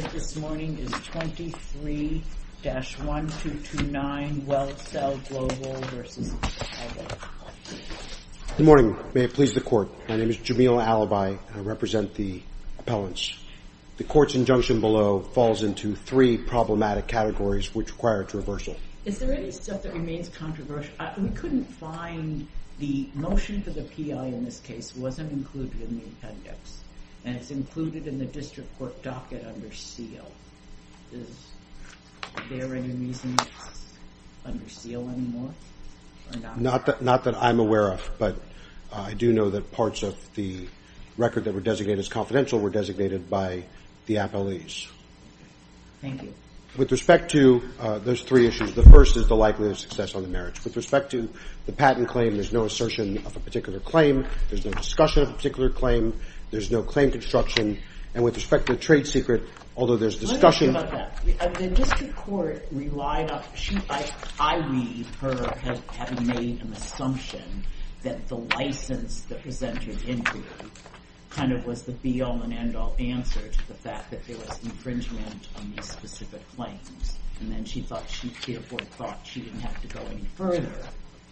This morning is 23-1229 Well Cell Global v. Calvit. Good morning, may it please the court. My name is Jamil Alibi and I represent the appellants. The court's injunction below falls into three problematic categories which require traversal. Is there any stuff that remains controversial? We couldn't find the motion for the P.I. in this case wasn't included in the appendix and it's included in the district court docket under seal. Is there any reason it's under seal anymore? Not that I'm aware of but I do know that parts of the record that were designated as confidential were designated by the appellees. Thank you. With respect to those three issues, the first is the likelihood of success on the marriage. With respect to the patent claim, there's no assertion of a particular claim. There's no discussion of a particular claim. There's no claim construction. And with respect to the trade secret, although there's discussion Let's talk about that. The district court relied on, I read her having made an assumption that the license that presented injury kind of was the be all and end all answer to the fact that there was infringement on these specific claims. And then she thought, she therefore thought she didn't have to go any further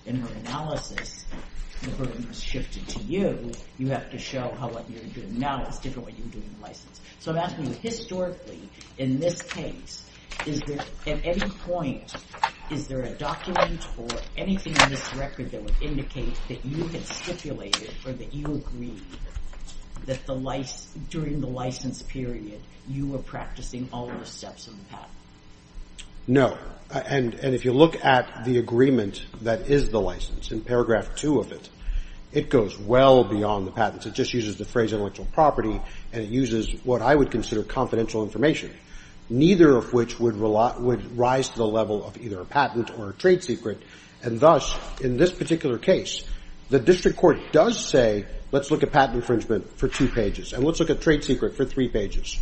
in her analysis. The burden was shifted to you. You have to show how what you're doing now is different from what you were doing in the license. So I'm asking you historically, in this case, is there at any point, is there a document or anything in this record that would indicate that you had stipulated or that you agreed that during the license period you were practicing all of the steps in the patent? No. And if you look at the agreement that is the license, in paragraph two of it, it goes well beyond the patents. It just uses the phrase intellectual property and it uses what I would consider confidential information, neither of which would rise to the level of either a patent or a trade secret. And thus, in this particular case, the district court does say let's look at patent infringement for two pages and let's look at trade secret for three pages.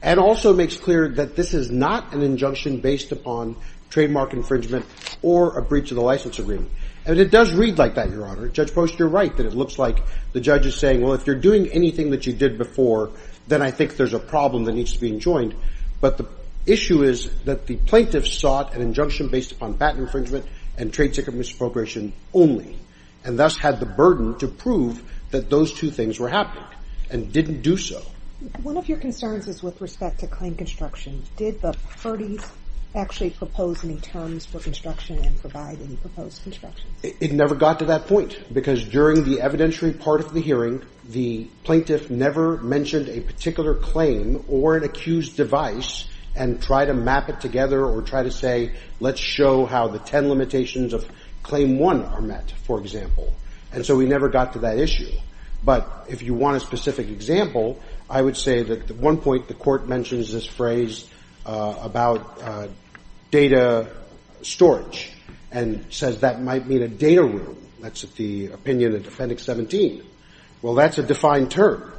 And also makes clear that this is not an injunction based upon trademark infringement or a breach of the license agreement. And it does read like that, Your Honor. Judge Post, you're right that it looks like the judge is saying, well, if you're doing anything that you did before, then I think there's a problem that needs to be enjoined. But the issue is that the plaintiffs sought an injunction based upon patent infringement and trade secret misappropriation only, and thus had the burden to prove that those two things were happening, and didn't do so. One of your concerns is with respect to claim construction. Did the parties actually propose any terms for construction and provide any proposed construction? It never got to that point, because during the evidentiary part of the hearing, the plaintiff never mentioned a particular claim or an accused device and tried to map it together or try to say let's show how the ten limitations of claim one are met, for example. And so we never got to that issue. But if you want a specific example, I would say that at one point the Court mentions this phrase about data storage and says that might mean a data room. That's the opinion of Defendant 17. Well, that's a defined term.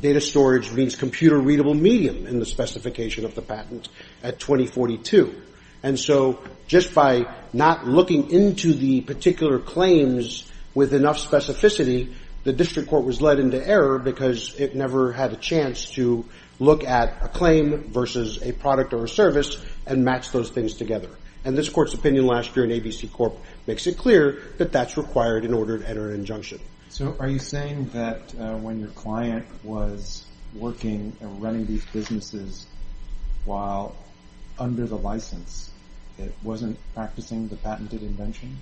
Data storage means computer-readable medium in the specification of the patent at 2042. And so just by not looking into the particular claims with enough specificity, the District Court was led into error because it never had a chance to look at a claim versus a product or a service and match those things together. And this Court's opinion last year in ABC Corp makes it clear that that's required in order to enter an injunction. So are you saying that when your client was working and running these businesses while under the license it wasn't practicing the patented invention?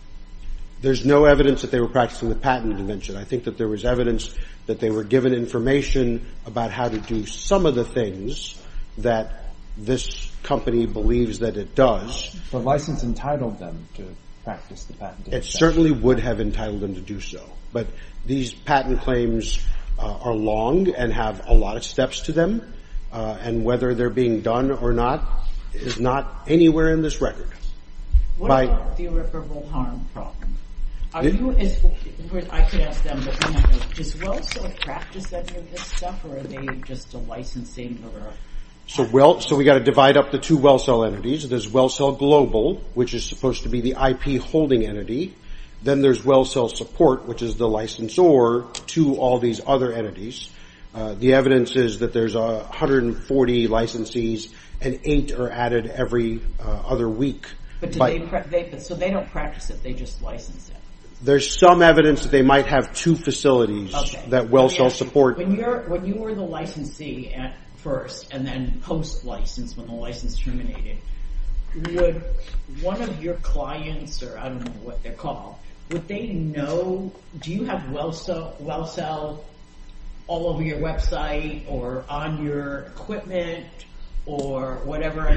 There's no evidence that they were practicing the patent invention. I think that there was evidence that they were given information about how to do some of the things that this company believes that it does. The license entitled them to practice the patent invention. It certainly would have entitled them to do so. But these patent claims are long and have a lot of steps to them. And whether they're being done or not is not anywhere in this record. What about the irreparable harm problem? I could ask them, but is WellSell practiced any of this stuff or are they just a licensing? So we've got to divide up the two WellSell entities. There's WellSell Global, which is supposed to be the IP holding entity. Then there's WellSell Support, which is the licensor to all these other entities. The evidence is that there's 140 licensees and eight are added every other week. So they don't practice it, they just license it? There's some evidence that they might have two facilities that WellSell Support. When you were the licensee at first and then post-license when the license terminated, would one of your clients, or I don't know what they're called, would they know, do you have WellSell all over your website or on your equipment or whatever?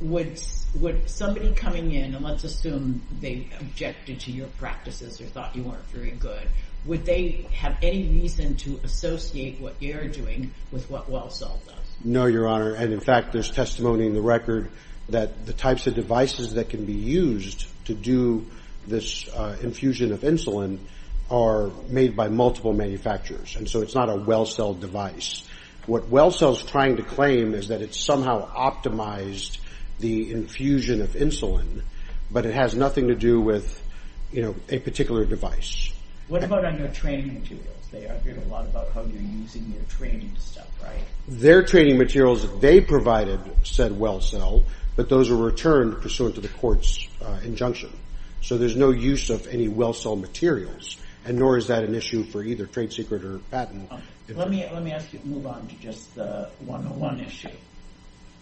Would somebody coming in, and let's assume they objected to your practices or thought you weren't very good, would they have any reason to associate what you're doing with what WellSell does? No, Your Honor. And, in fact, there's testimony in the record that the types of devices that can be used to do this infusion of insulin are made by multiple manufacturers, and so it's not a WellSell device. What WellSell is trying to claim is that it somehow optimized the infusion of insulin, but it has nothing to do with a particular device. What about on your training materials? They argued a lot about how you're using your training stuff, right? Their training materials they provided said WellSell, but those were returned pursuant to the court's injunction. So there's no use of any WellSell materials, and nor is that an issue for either Trade Secret or Patent. Let me ask you to move on to just the 101 issue.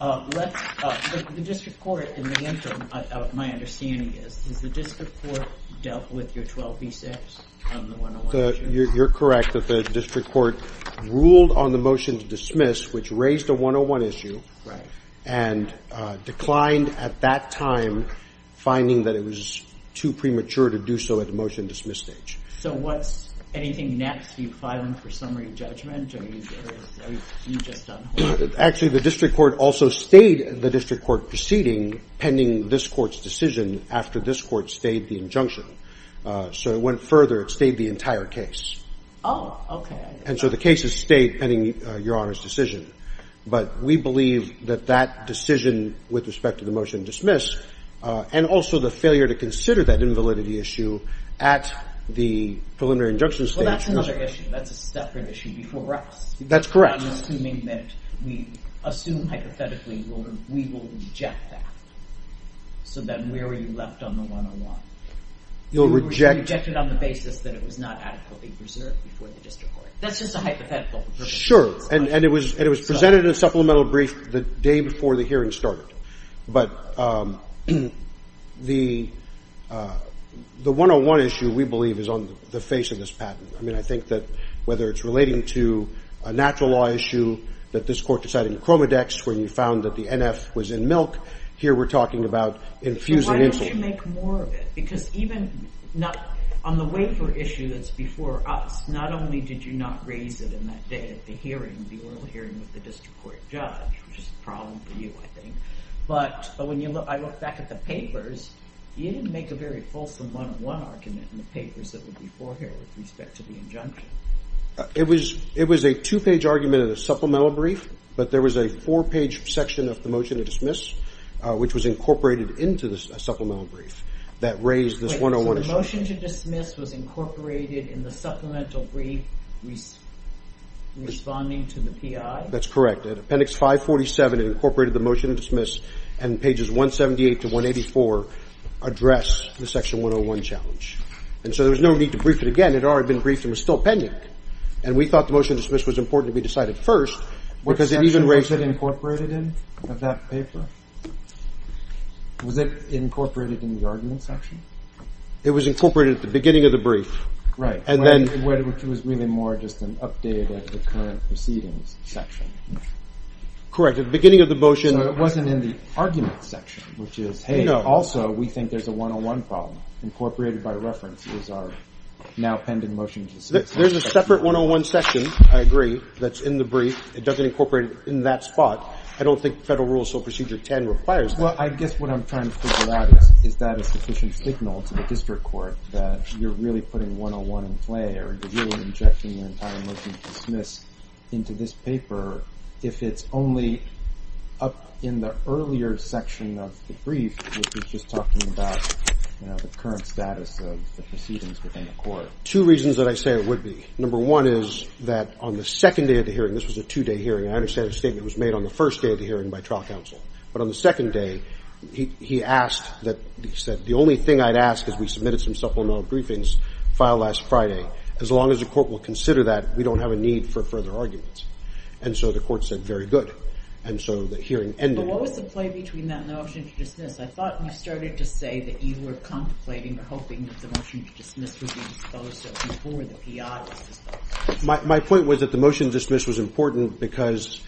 The district court in the interim, my understanding is, is the district court dealt with your 12B6 on the 101 issue? You're correct that the district court ruled on the motion to dismiss, which raised a 101 issue. Right. And declined at that time, finding that it was too premature to do so at the motion to dismiss stage. So what's anything next? Are you filing for summary judgment? Are you just on hold? Actually, the district court also stayed the district court proceeding pending this court's decision after this court stayed the injunction. So it went further. It stayed the entire case. Oh, OK. And so the case has stayed pending Your Honor's decision. But we believe that that decision with respect to the motion to dismiss and also the failure to consider that invalidity issue at the preliminary injunction stage. Well, that's another issue. That's a separate issue before us. That's correct. I'm assuming that we assume hypothetically we will reject that. So then where are you left on the 101? You'll reject it on the basis that it was not adequately preserved before the district court. That's just a hypothetical. Sure. And it was presented in a supplemental brief the day before the hearing started. But the 101 issue, we believe, is on the face of this patent. I mean, I think that whether it's relating to a natural law issue that this court decided in chromodex where you found that the NF was in milk, here we're talking about infusing insulin. Why don't you make more of it? Because even on the waiver issue that's before us, not only did you not raise it in that day at the hearing, the oral hearing with the district court judge, which is a problem for you, I think. But when I look back at the papers, you didn't make a very fulsome one-on-one argument in the papers that were before here with respect to the injunction. It was a two-page argument in a supplemental brief, but there was a four-page section of the motion to dismiss which was incorporated into the supplemental brief that raised this 101 issue. So the motion to dismiss was incorporated in the supplemental brief responding to the PI? That's correct. Appendix 547 incorporated the motion to dismiss and pages 178 to 184 address the section 101 challenge. And so there was no need to brief it again. It had already been briefed and was still pending. And we thought the motion to dismiss was important to be decided first because it even raised it. What section was it incorporated in of that paper? Was it incorporated in the argument section? It was incorporated at the beginning of the brief. Right. Which was really more just an update of the current proceedings section. Correct. At the beginning of the motion. So it wasn't in the argument section, which is, hey, also we think there's a 101 problem. Incorporated by reference is our now pending motion to dismiss. There's a separate 101 section, I agree, that's in the brief. It doesn't incorporate it in that spot. I don't think federal rules, so procedure 10 requires that. Well, I guess what I'm trying to figure out is, is that a sufficient signal to the district court that you're really putting 101 in play or you're really injecting the entire motion to dismiss into this paper if it's only up in the earlier section of the brief, which is just talking about the current status of the proceedings within the court. Two reasons that I say it would be. Number one is that on the second day of the hearing, this was a two-day hearing, and I understand the statement was made on the first day of the hearing by trial counsel. But on the second day, he asked that, he said, the only thing I'd ask is we submitted some supplemental briefings filed last Friday. As long as the court will consider that, we don't have a need for further arguments. And so the court said, very good. And so the hearing ended. But what was the play between that and the motion to dismiss? I thought you started to say that you were contemplating or hoping that the motion to dismiss would be disposed of before the PI was disposed of. My point was that the motion to dismiss was important because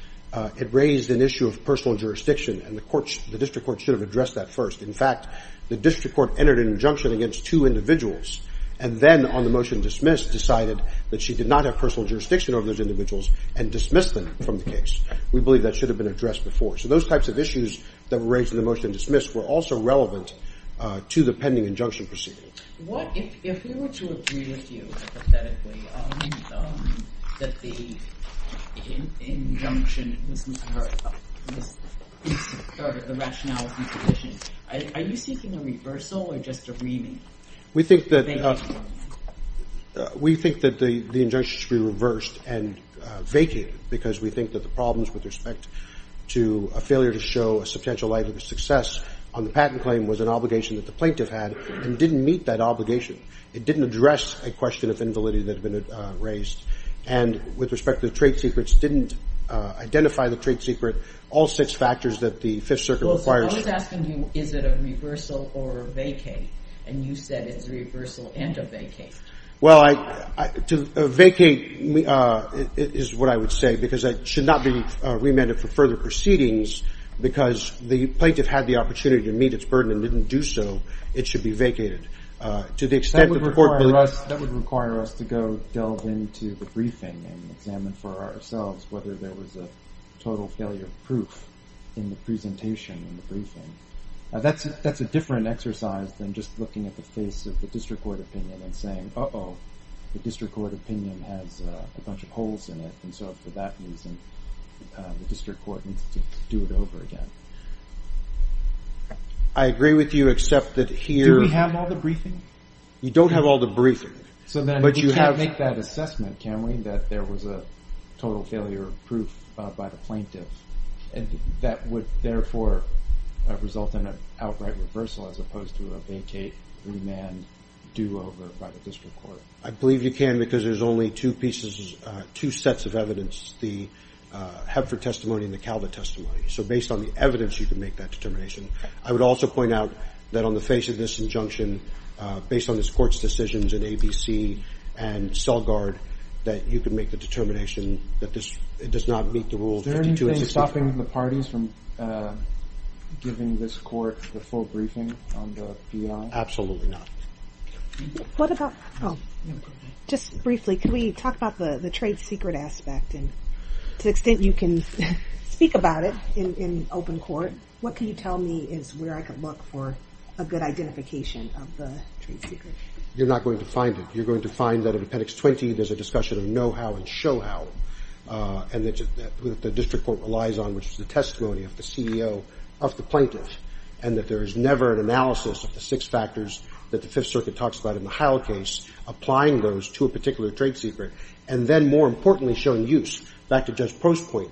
it raised an issue of personal jurisdiction, and the district court should have addressed that first. In fact, the district court entered an injunction against two individuals and then on the motion to dismiss decided that she did not have personal jurisdiction over those individuals and dismissed them from the case. We believe that should have been addressed before. So those types of issues that were raised in the motion to dismiss were also relevant to the pending injunction proceedings. If we were to agree with you, hypothetically, that the injunction was the rationality position, are you seeking a reversal or just a reaming? We think that the injunction should be reversed and vacated because we think that the problems with respect to a failure to show a substantial likelihood of success on the patent claim was an obligation that the plaintiff had and didn't meet that obligation. It didn't address a question of invalidity that had been raised. And with respect to the trade secrets, didn't identify the trade secret, all six factors that the Fifth Circuit requires. Well, so I was asking you is it a reversal or a vacate, and you said it's a reversal and a vacate. Well, a vacate is what I would say because it should not be remanded for further proceedings because the plaintiff had the opportunity to meet its burden and didn't do so. It should be vacated. That would require us to go delve into the briefing and examine for ourselves whether there was a total failure of proof in the presentation in the briefing. That's a different exercise than just looking at the face of the district court opinion and saying, uh-oh, the district court opinion has a bunch of holes in it. And so for that reason, the district court needs to do it over again. I agree with you except that here... Do we have all the briefings? You don't have all the briefings. But you have... So then we can't make that assessment, can we, that there was a total failure of proof by the plaintiff and that would therefore result in an outright reversal as opposed to a vacate, remand, do-over by the district court? I believe you can because there's only two pieces, two sets of evidence, the Hepford testimony and the Calvert testimony. So based on the evidence, you can make that determination. I would also point out that on the face of this injunction, based on this court's decisions in ABC and CellGuard, that you can make the determination that this does not meet the Rule 52... Is there anything stopping the parties from giving this court the full briefing on the PI? Absolutely not. What about... Oh, just briefly, can we talk about the trade secret aspect? And to the extent you can speak about it in open court, what can you tell me is where I can look for a good identification of the trade secret? You're not going to find it. You're going to find that in Appendix 20 there's a discussion of know-how and show-how and that the district court relies on, which is the testimony of the CEO, of the plaintiff, and that there is never an analysis of the six factors that the Fifth Circuit talks about in the Heil case, applying those to a particular trade secret, and then, more importantly, showing use. Back to Judge Prost's point,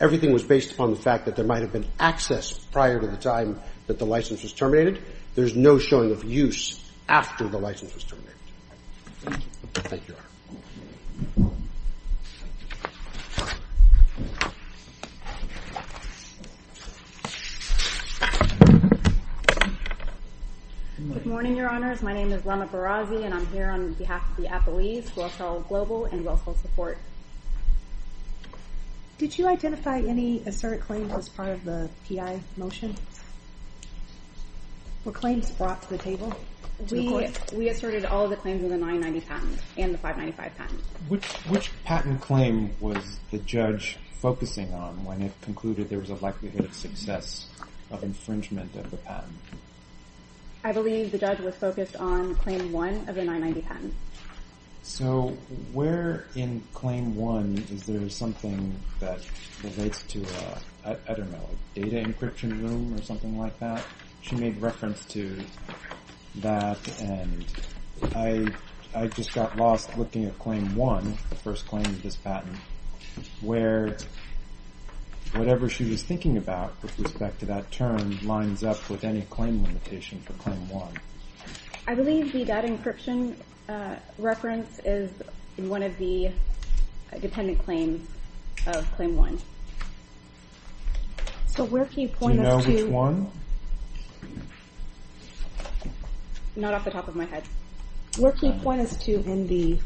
everything was based upon the fact that there might have been access prior to the time that the license was terminated. There's no showing of use after the license was terminated. Thank you, Your Honor. Good morning, Your Honors. My name is Lama Barazi, and I'm here on behalf of the Applees, WealthSol Global and WealthSol Support. Did you identify any assert claims as part of the PI motion? Were claims brought to the table? We asserted all of the claims in the 990 patent and the 595 patent. Which patent claim was the judge focusing on when it concluded there was a likelihood of success of infringement of the patent? I believe the judge was focused on Claim 1 of the 990 patent. So where in Claim 1 is there something that relates to a, I don't know, a data encryption room or something like that? She made reference to that, and I just got lost looking at Claim 1, the first claim of this patent, where whatever she was thinking about with respect to that term lines up with any claim limitation for Claim 1. I believe the data encryption reference is in one of the dependent claims of Claim 1. So where can you point us to? Do you know which one? Not off the top of my head. Where can you point us to in the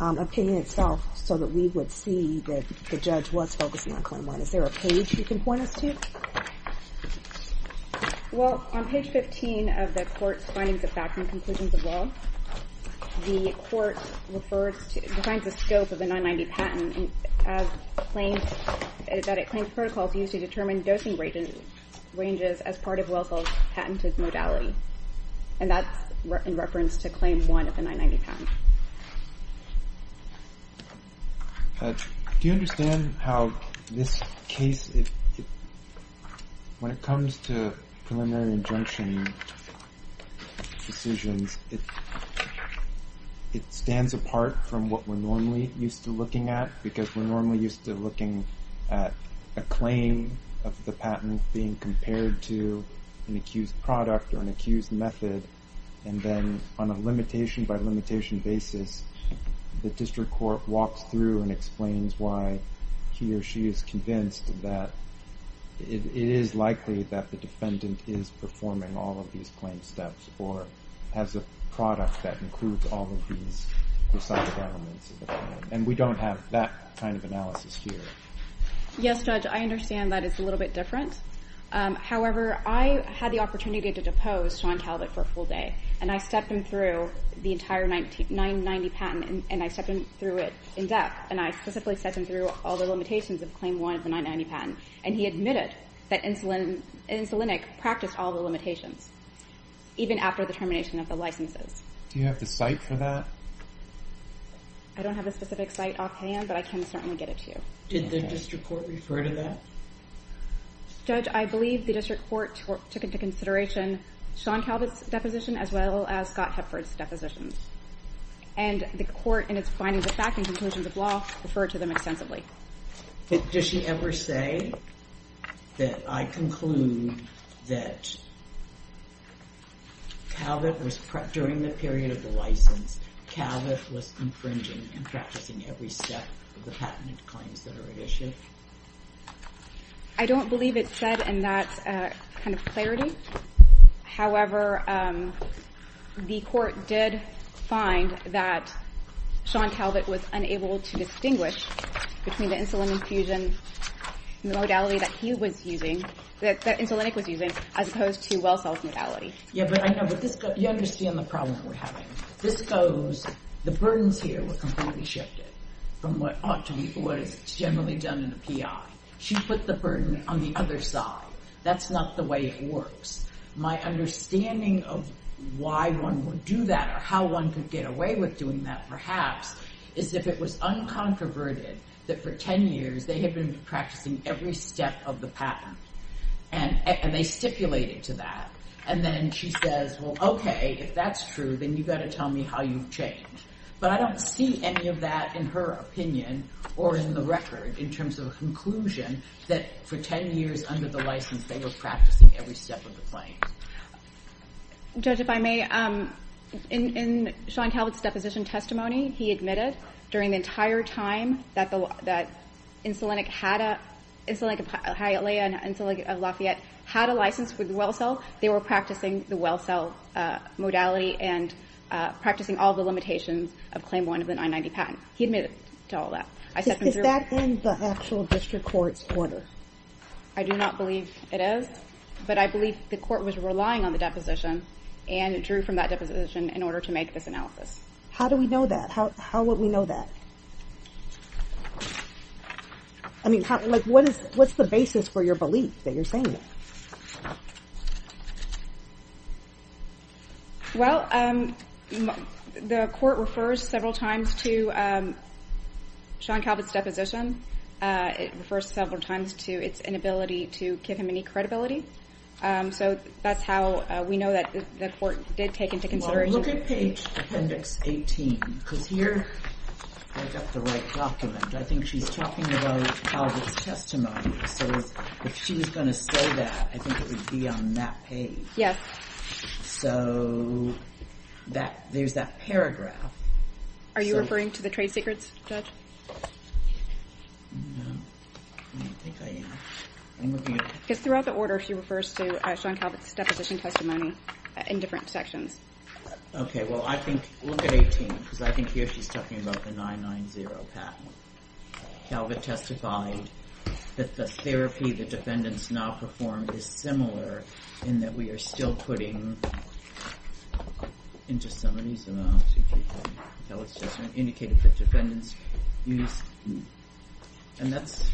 opinion itself so that we would see that the judge was focusing on Claim 1? Is there a page you can point us to? Well, on page 15 of the court's findings of facts and conclusions of law, the court defines the scope of the 990 patent as claims, that it claims protocols used to determine dosing ranges as part of WellSell's patented modality. And that's in reference to Claim 1 of the 990 patent. Do you understand how this case, when it comes to preliminary injunction decisions, it stands apart from what we're normally used to looking at because we're normally used to looking at a claim of the patent being compared to an accused product or an accused method. And then on a limitation-by-limitation basis, the district court walks through and explains why he or she is convinced that it is likely that the defendant is performing all of these claim steps or has a product that includes all of these recidivic elements. And we don't have that kind of analysis here. Yes, Judge, I understand that it's a little bit different. However, I had the opportunity to depose Sean Talbot for a full day, and I stepped him through the entire 990 patent, and I stepped him through it in depth, and I specifically stepped him through all the limitations of Claim 1 of the 990 patent. And he admitted that Insulinic practiced all the limitations, even after the termination of the licenses. Do you have the site for that? I don't have a specific site offhand, but I can certainly get it to you. Did the district court refer to that? Judge, I believe the district court took into consideration Sean Talbot's deposition as well as Scott Hepford's depositions. And the court, in its findings of fact and conclusions of law, referred to them extensively. But does she ever say that I conclude that Talbot was, during the period of the license, Talbot was infringing and practicing every step of the patented claims that are at issue? I don't believe it's said in that kind of clarity. However, the court did find that Sean Talbot was unable to distinguish between the insulin infusion modality that he was using, that Insulinic was using, as opposed to WellSell's modality. Yeah, but I know, but you understand the problem that we're having. This goes, the burdens here were completely shifted from what ought to be, what is generally done in a PI. She put the burden on the other side. That's not the way it works. My understanding of why one would do that or how one could get away with doing that, perhaps, is if it was uncontroverted that for 10 years they had been practicing every step of the patent. And they stipulated to that. And then she says, well, okay, if that's true, then you've got to tell me how you've changed. But I don't see any of that in her opinion or in the record in terms of a conclusion that for 10 years under the license they were practicing every step of the claim. Judge, if I may, in Sean Talbot's deposition testimony, he admitted during the entire time that Insulinic had a, Insulinic of Hialeah and Insulinic of Lafayette had a license with WellSell, they were practicing the WellSell modality and practicing all the limitations of Claim 1 of the 990 patent. He admitted to all that. Is that in the actual district court's order? I do not believe it is. But I believe the court was relying on the deposition and drew from that deposition in order to make this analysis. How do we know that? How would we know that? I mean, what's the basis for your belief that you're saying that? Well, the court refers several times to Sean Talbot's deposition. It refers several times to its inability to give him any credibility. So that's how we know that the court did take into consideration. Look at page appendix 18, because here I've got the right document. I think she's talking about Talbot's testimony. So if she was going to say that, I think it would be on that page. Yes. So there's that paragraph. Are you referring to the trade secrets, Judge? Because throughout the order, she refers to Sean Talbot's deposition testimony in different sections. Okay. Well, look at 18, because I think here she's talking about the 990 patent. Talbot testified that the therapy the defendants now performed is similar in that we are still putting into some of these amounts that was just indicated that defendants used. And that's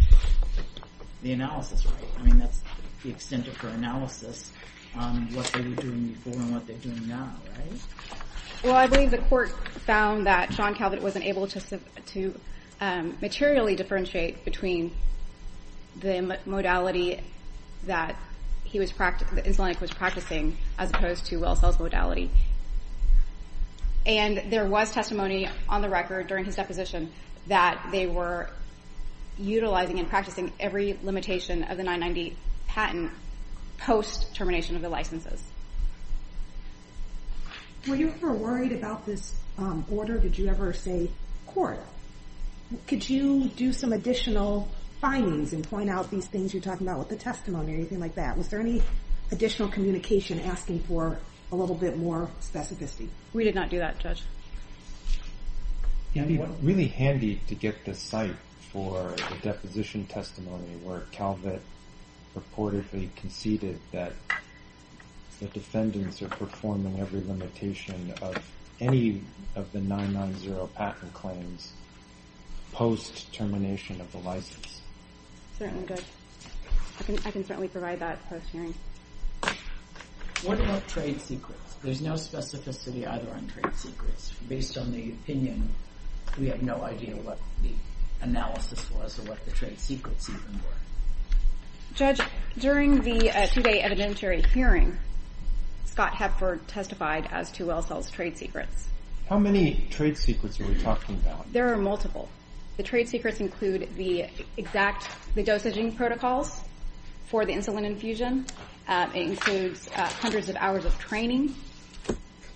the analysis, right? I mean, that's the extent of her analysis on what they were doing before and what they're doing now, right? Well, I believe the court found that Sean Talbot wasn't able to materially differentiate between the modality that the insulinic was practicing as opposed to Wellsell's modality. And there was testimony on the record during his deposition that they were utilizing and practicing every limitation of the 990 patent post-termination of the licenses. Were you ever worried about this order? Did you ever say, Court, could you do some additional findings and point out these things you're talking about with the testimony or anything like that? Was there any additional communication asking for a little bit more specificity? We did not do that, Judge. It would be really handy to get the site for the deposition testimony where Talbot purportedly conceded that the defendants are performing every limitation of any of the 990 patent claims post-termination of the license. Certainly, Judge. I can certainly provide that post-hearing. What about trade secrets? There's no specificity either on trade secrets. Based on the opinion, we have no idea what the analysis was or what the trade secrets even were. Judge, during the two-day evidentiary hearing, Scott Hepford testified as to Wellsell's trade secrets. How many trade secrets are we talking about? There are multiple. The trade secrets include the exact dosaging protocols for the insulin infusion. It includes hundreds of hours of training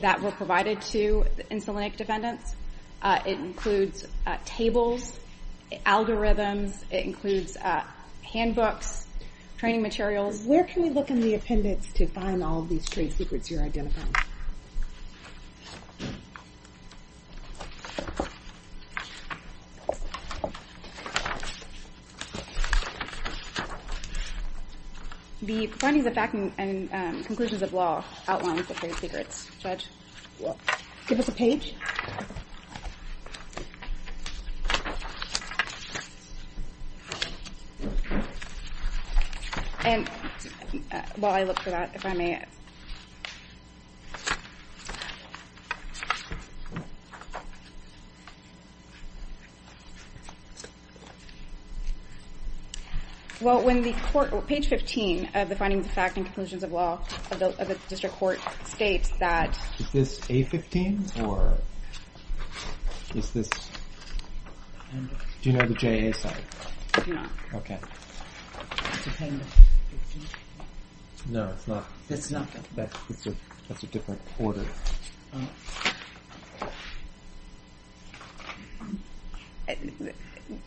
that were provided to insulinic defendants. It includes tables, algorithms. It includes handbooks, training materials. Where can we look in the appendix to find all these trade secrets you're identifying? The findings of fact and conclusions of law outline the trade secrets. Judge? Give us a page. And while I look for that, if I may, Yes. Well, page 15 of the findings of fact and conclusions of law of the district court states that Is this A15 or is this Do you know the JA side? No. Okay. No, it's not. It's not. That's a different order.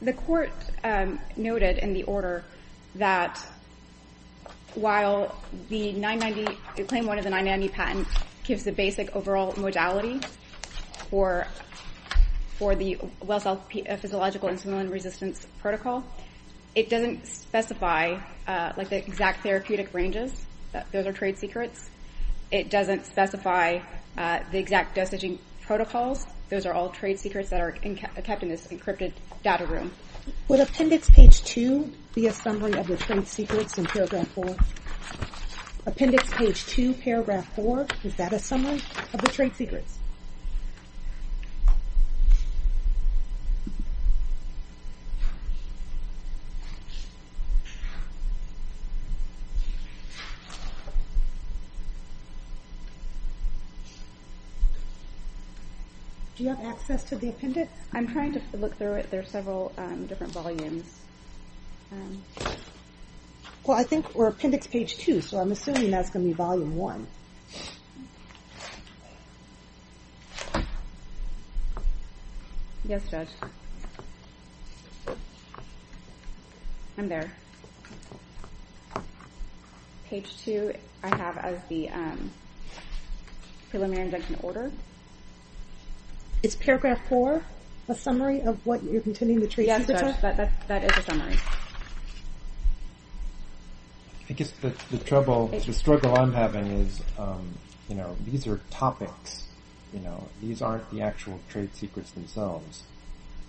The court noted in the order that while the 990, claim one of the 990 patent gives the basic overall modality for the Wellsell physiological insulin resistance protocol, it doesn't specify the exact therapeutic ranges. Those are trade secrets. It doesn't specify the exact dosaging protocols. Those are all trade secrets that are kept in this encrypted data room. Would appendix page 2 be a summary of the trade secrets in paragraph 4? Appendix page 2, paragraph 4, is that a summary of the trade secrets? Do you have access to the appendix? I'm trying to look through it. There are several different volumes. Well, I think we're appendix page 2, so I'm assuming that's going to be volume 1. Yes, Judge. I'm there. Page 2 I have as the preliminary injunction order. Is paragraph 4 a summary of what you're contending the trade secrets are? Yes, that is a summary. I guess the struggle I'm having is these are topics. These aren't the actual trade secrets themselves.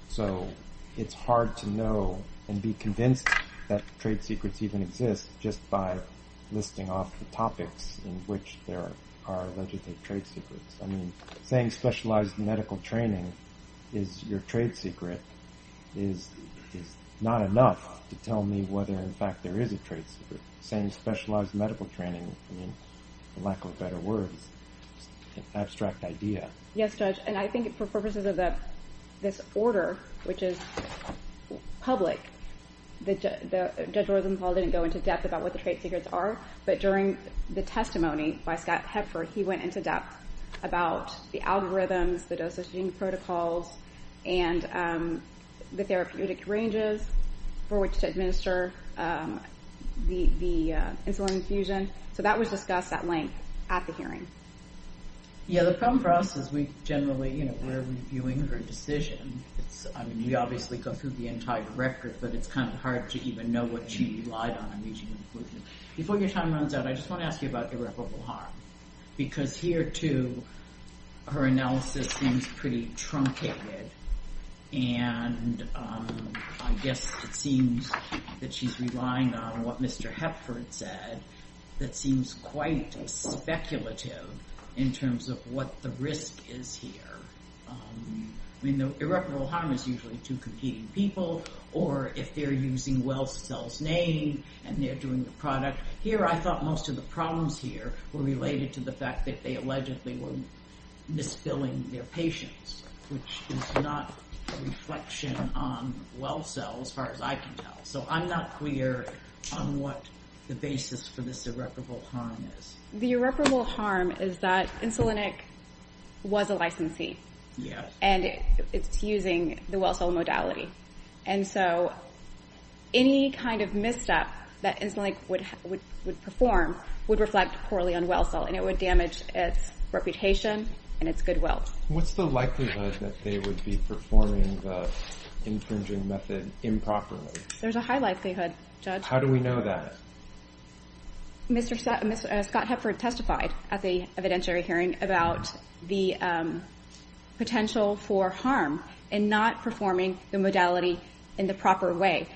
So it's hard to know and be convinced that trade secrets even exist just by listing off the topics in which there are alleged trade secrets. I mean, saying specialized medical training is your trade secret is not enough to tell me whether, in fact, there is a trade secret. Saying specialized medical training, I mean, for lack of better words, is an abstract idea. Yes, Judge, and I think for purposes of this order, which is public, Judge Rosenthal didn't go into depth about what the trade secrets are, but during the testimony by Scott Hepford, he went into depth about the algorithms, the dosaging protocols, and the therapeutic ranges for which to administer the insulin infusion. Yes, the problem for us is we generally, you know, we're reviewing her decision. I mean, we obviously go through the entire record, but it's kind of hard to even know what she relied on in reaching inclusion. Before your time runs out, I just want to ask you about irreparable harm because here, too, her analysis seems pretty truncated, and I guess it seems that she's relying on what Mr. Hepford said that seems quite speculative in terms of what the risk is here. I mean, the irreparable harm is usually to competing people or if they're using Well-Cell's name and they're doing the product. Here, I thought most of the problems here were related to the fact that they allegedly were misfilling their patients, which is not a reflection on Well-Cell, as far as I can tell. So I'm not clear on what the basis for this irreparable harm is. The irreparable harm is that Insulinic was a licensee, and it's using the Well-Cell modality. And so any kind of misstep that Insulinic would perform would reflect poorly on Well-Cell, and it would damage its reputation and its goodwill. What's the likelihood that they would be performing the infringing method improperly? There's a high likelihood, Judge. How do we know that? Scott Hepford testified at the evidentiary hearing about the potential for harm in not performing the modality in the proper way.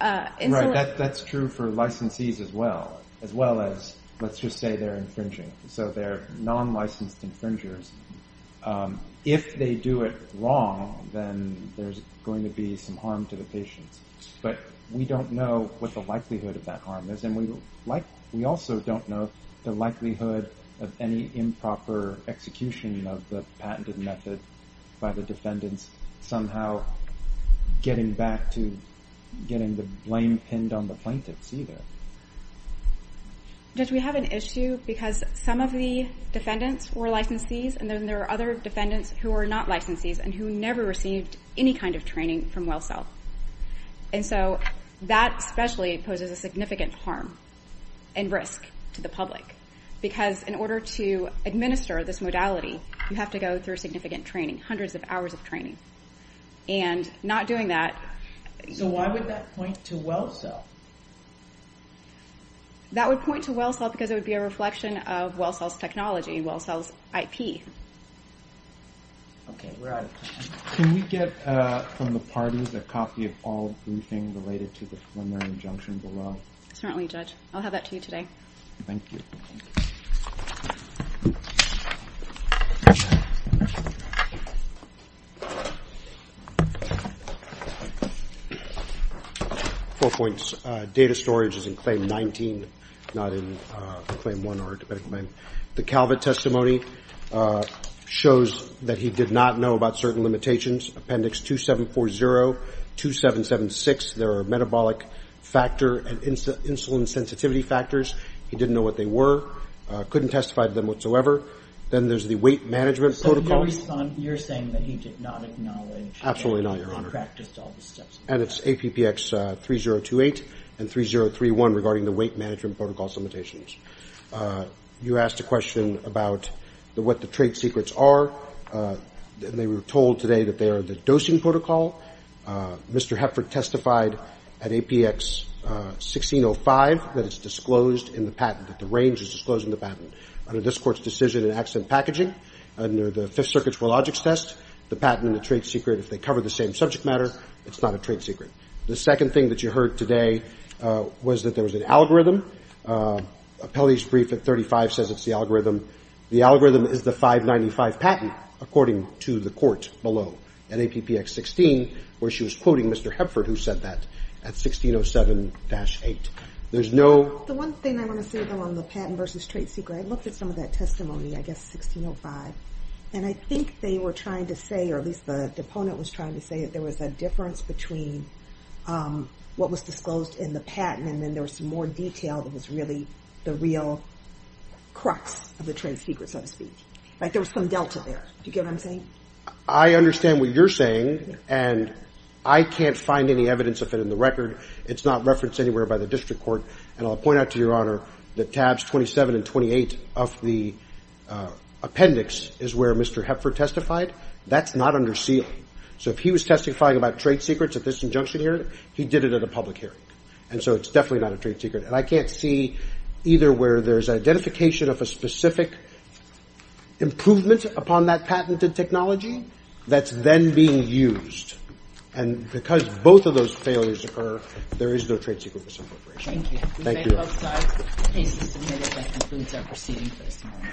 Right. That's true for licensees as well, as well as let's just say they're infringing. So they're non-licensed infringers. If they do it wrong, then there's going to be some harm to the patients. But we don't know what the likelihood of that harm is, and we also don't know the likelihood of any improper execution of the patented method by the defendants somehow getting back to getting the blame pinned on the plaintiffs either. Judge, we have an issue because some of the defendants were licensees, and then there are other defendants who are not licensees and who never received any kind of training from Well-Cell. And so that especially poses a significant harm and risk to the public because in order to administer this modality, you have to go through significant training, hundreds of hours of training. And not doing that- So why would that point to Well-Cell? That would point to Well-Cell because it would be a reflection of Well-Cell's technology, Well-Cell's IP. Okay, we're out of time. Can we get from the parties a copy of all briefing related to the preliminary injunction below? Certainly, Judge. I'll have that to you today. Thank you. Four points. Data storage is in Claim 19, not in Claim 1 or to Medical Name. The CalVit testimony shows that he did not know about certain limitations, Appendix 2740, 2776. There are metabolic factor and insulin sensitivity factors. He didn't know what they were, couldn't testify to them whatsoever. Then there's the weight management protocol. So you're saying that he did not acknowledge- Absolutely not, Your Honor. And he didn't practice all the steps. And it's APPX 3028 and 3031 regarding the weight management protocol limitations. You asked a question about what the trade secrets are. They were told today that they are the dosing protocol. Mr. Hepford testified at APX 1605 that it's disclosed in the patent, that the range is disclosed in the patent. Under this Court's decision in Accident Packaging, under the Fifth Circuit Trilogic's test, the patent and the trade secret, if they cover the same subject matter, it's not a trade secret. The second thing that you heard today was that there was an algorithm. Appellee's brief at 35 says it's the algorithm. The algorithm is the 595 patent, according to the Court below, and APPX 16 where she was quoting Mr. Hepford who said that at 1607-8. There's no- The one thing I want to say, though, on the patent versus trade secret, I looked at some of that testimony, I guess 1605, and I think they were trying to say, or at least the opponent was trying to say that there was a difference between what was disclosed in the patent, and then there was some more detail that was really the real crux of the trade secret, so to speak. Like there was some delta there. Do you get what I'm saying? I understand what you're saying, and I can't find any evidence of it in the record. It's not referenced anywhere by the district court, and I'll point out to Your Honor that tabs 27 and 28 of the appendix is where Mr. Hepford testified. That's not under seal. So if he was testifying about trade secrets at this injunction hearing, he did it at a public hearing, and so it's definitely not a trade secret, and I can't see either where there's identification of a specific improvement upon that patented technology that's then being used, and because both of those failures occur, there is no trade secret misappropriation. Thank you. Thank you.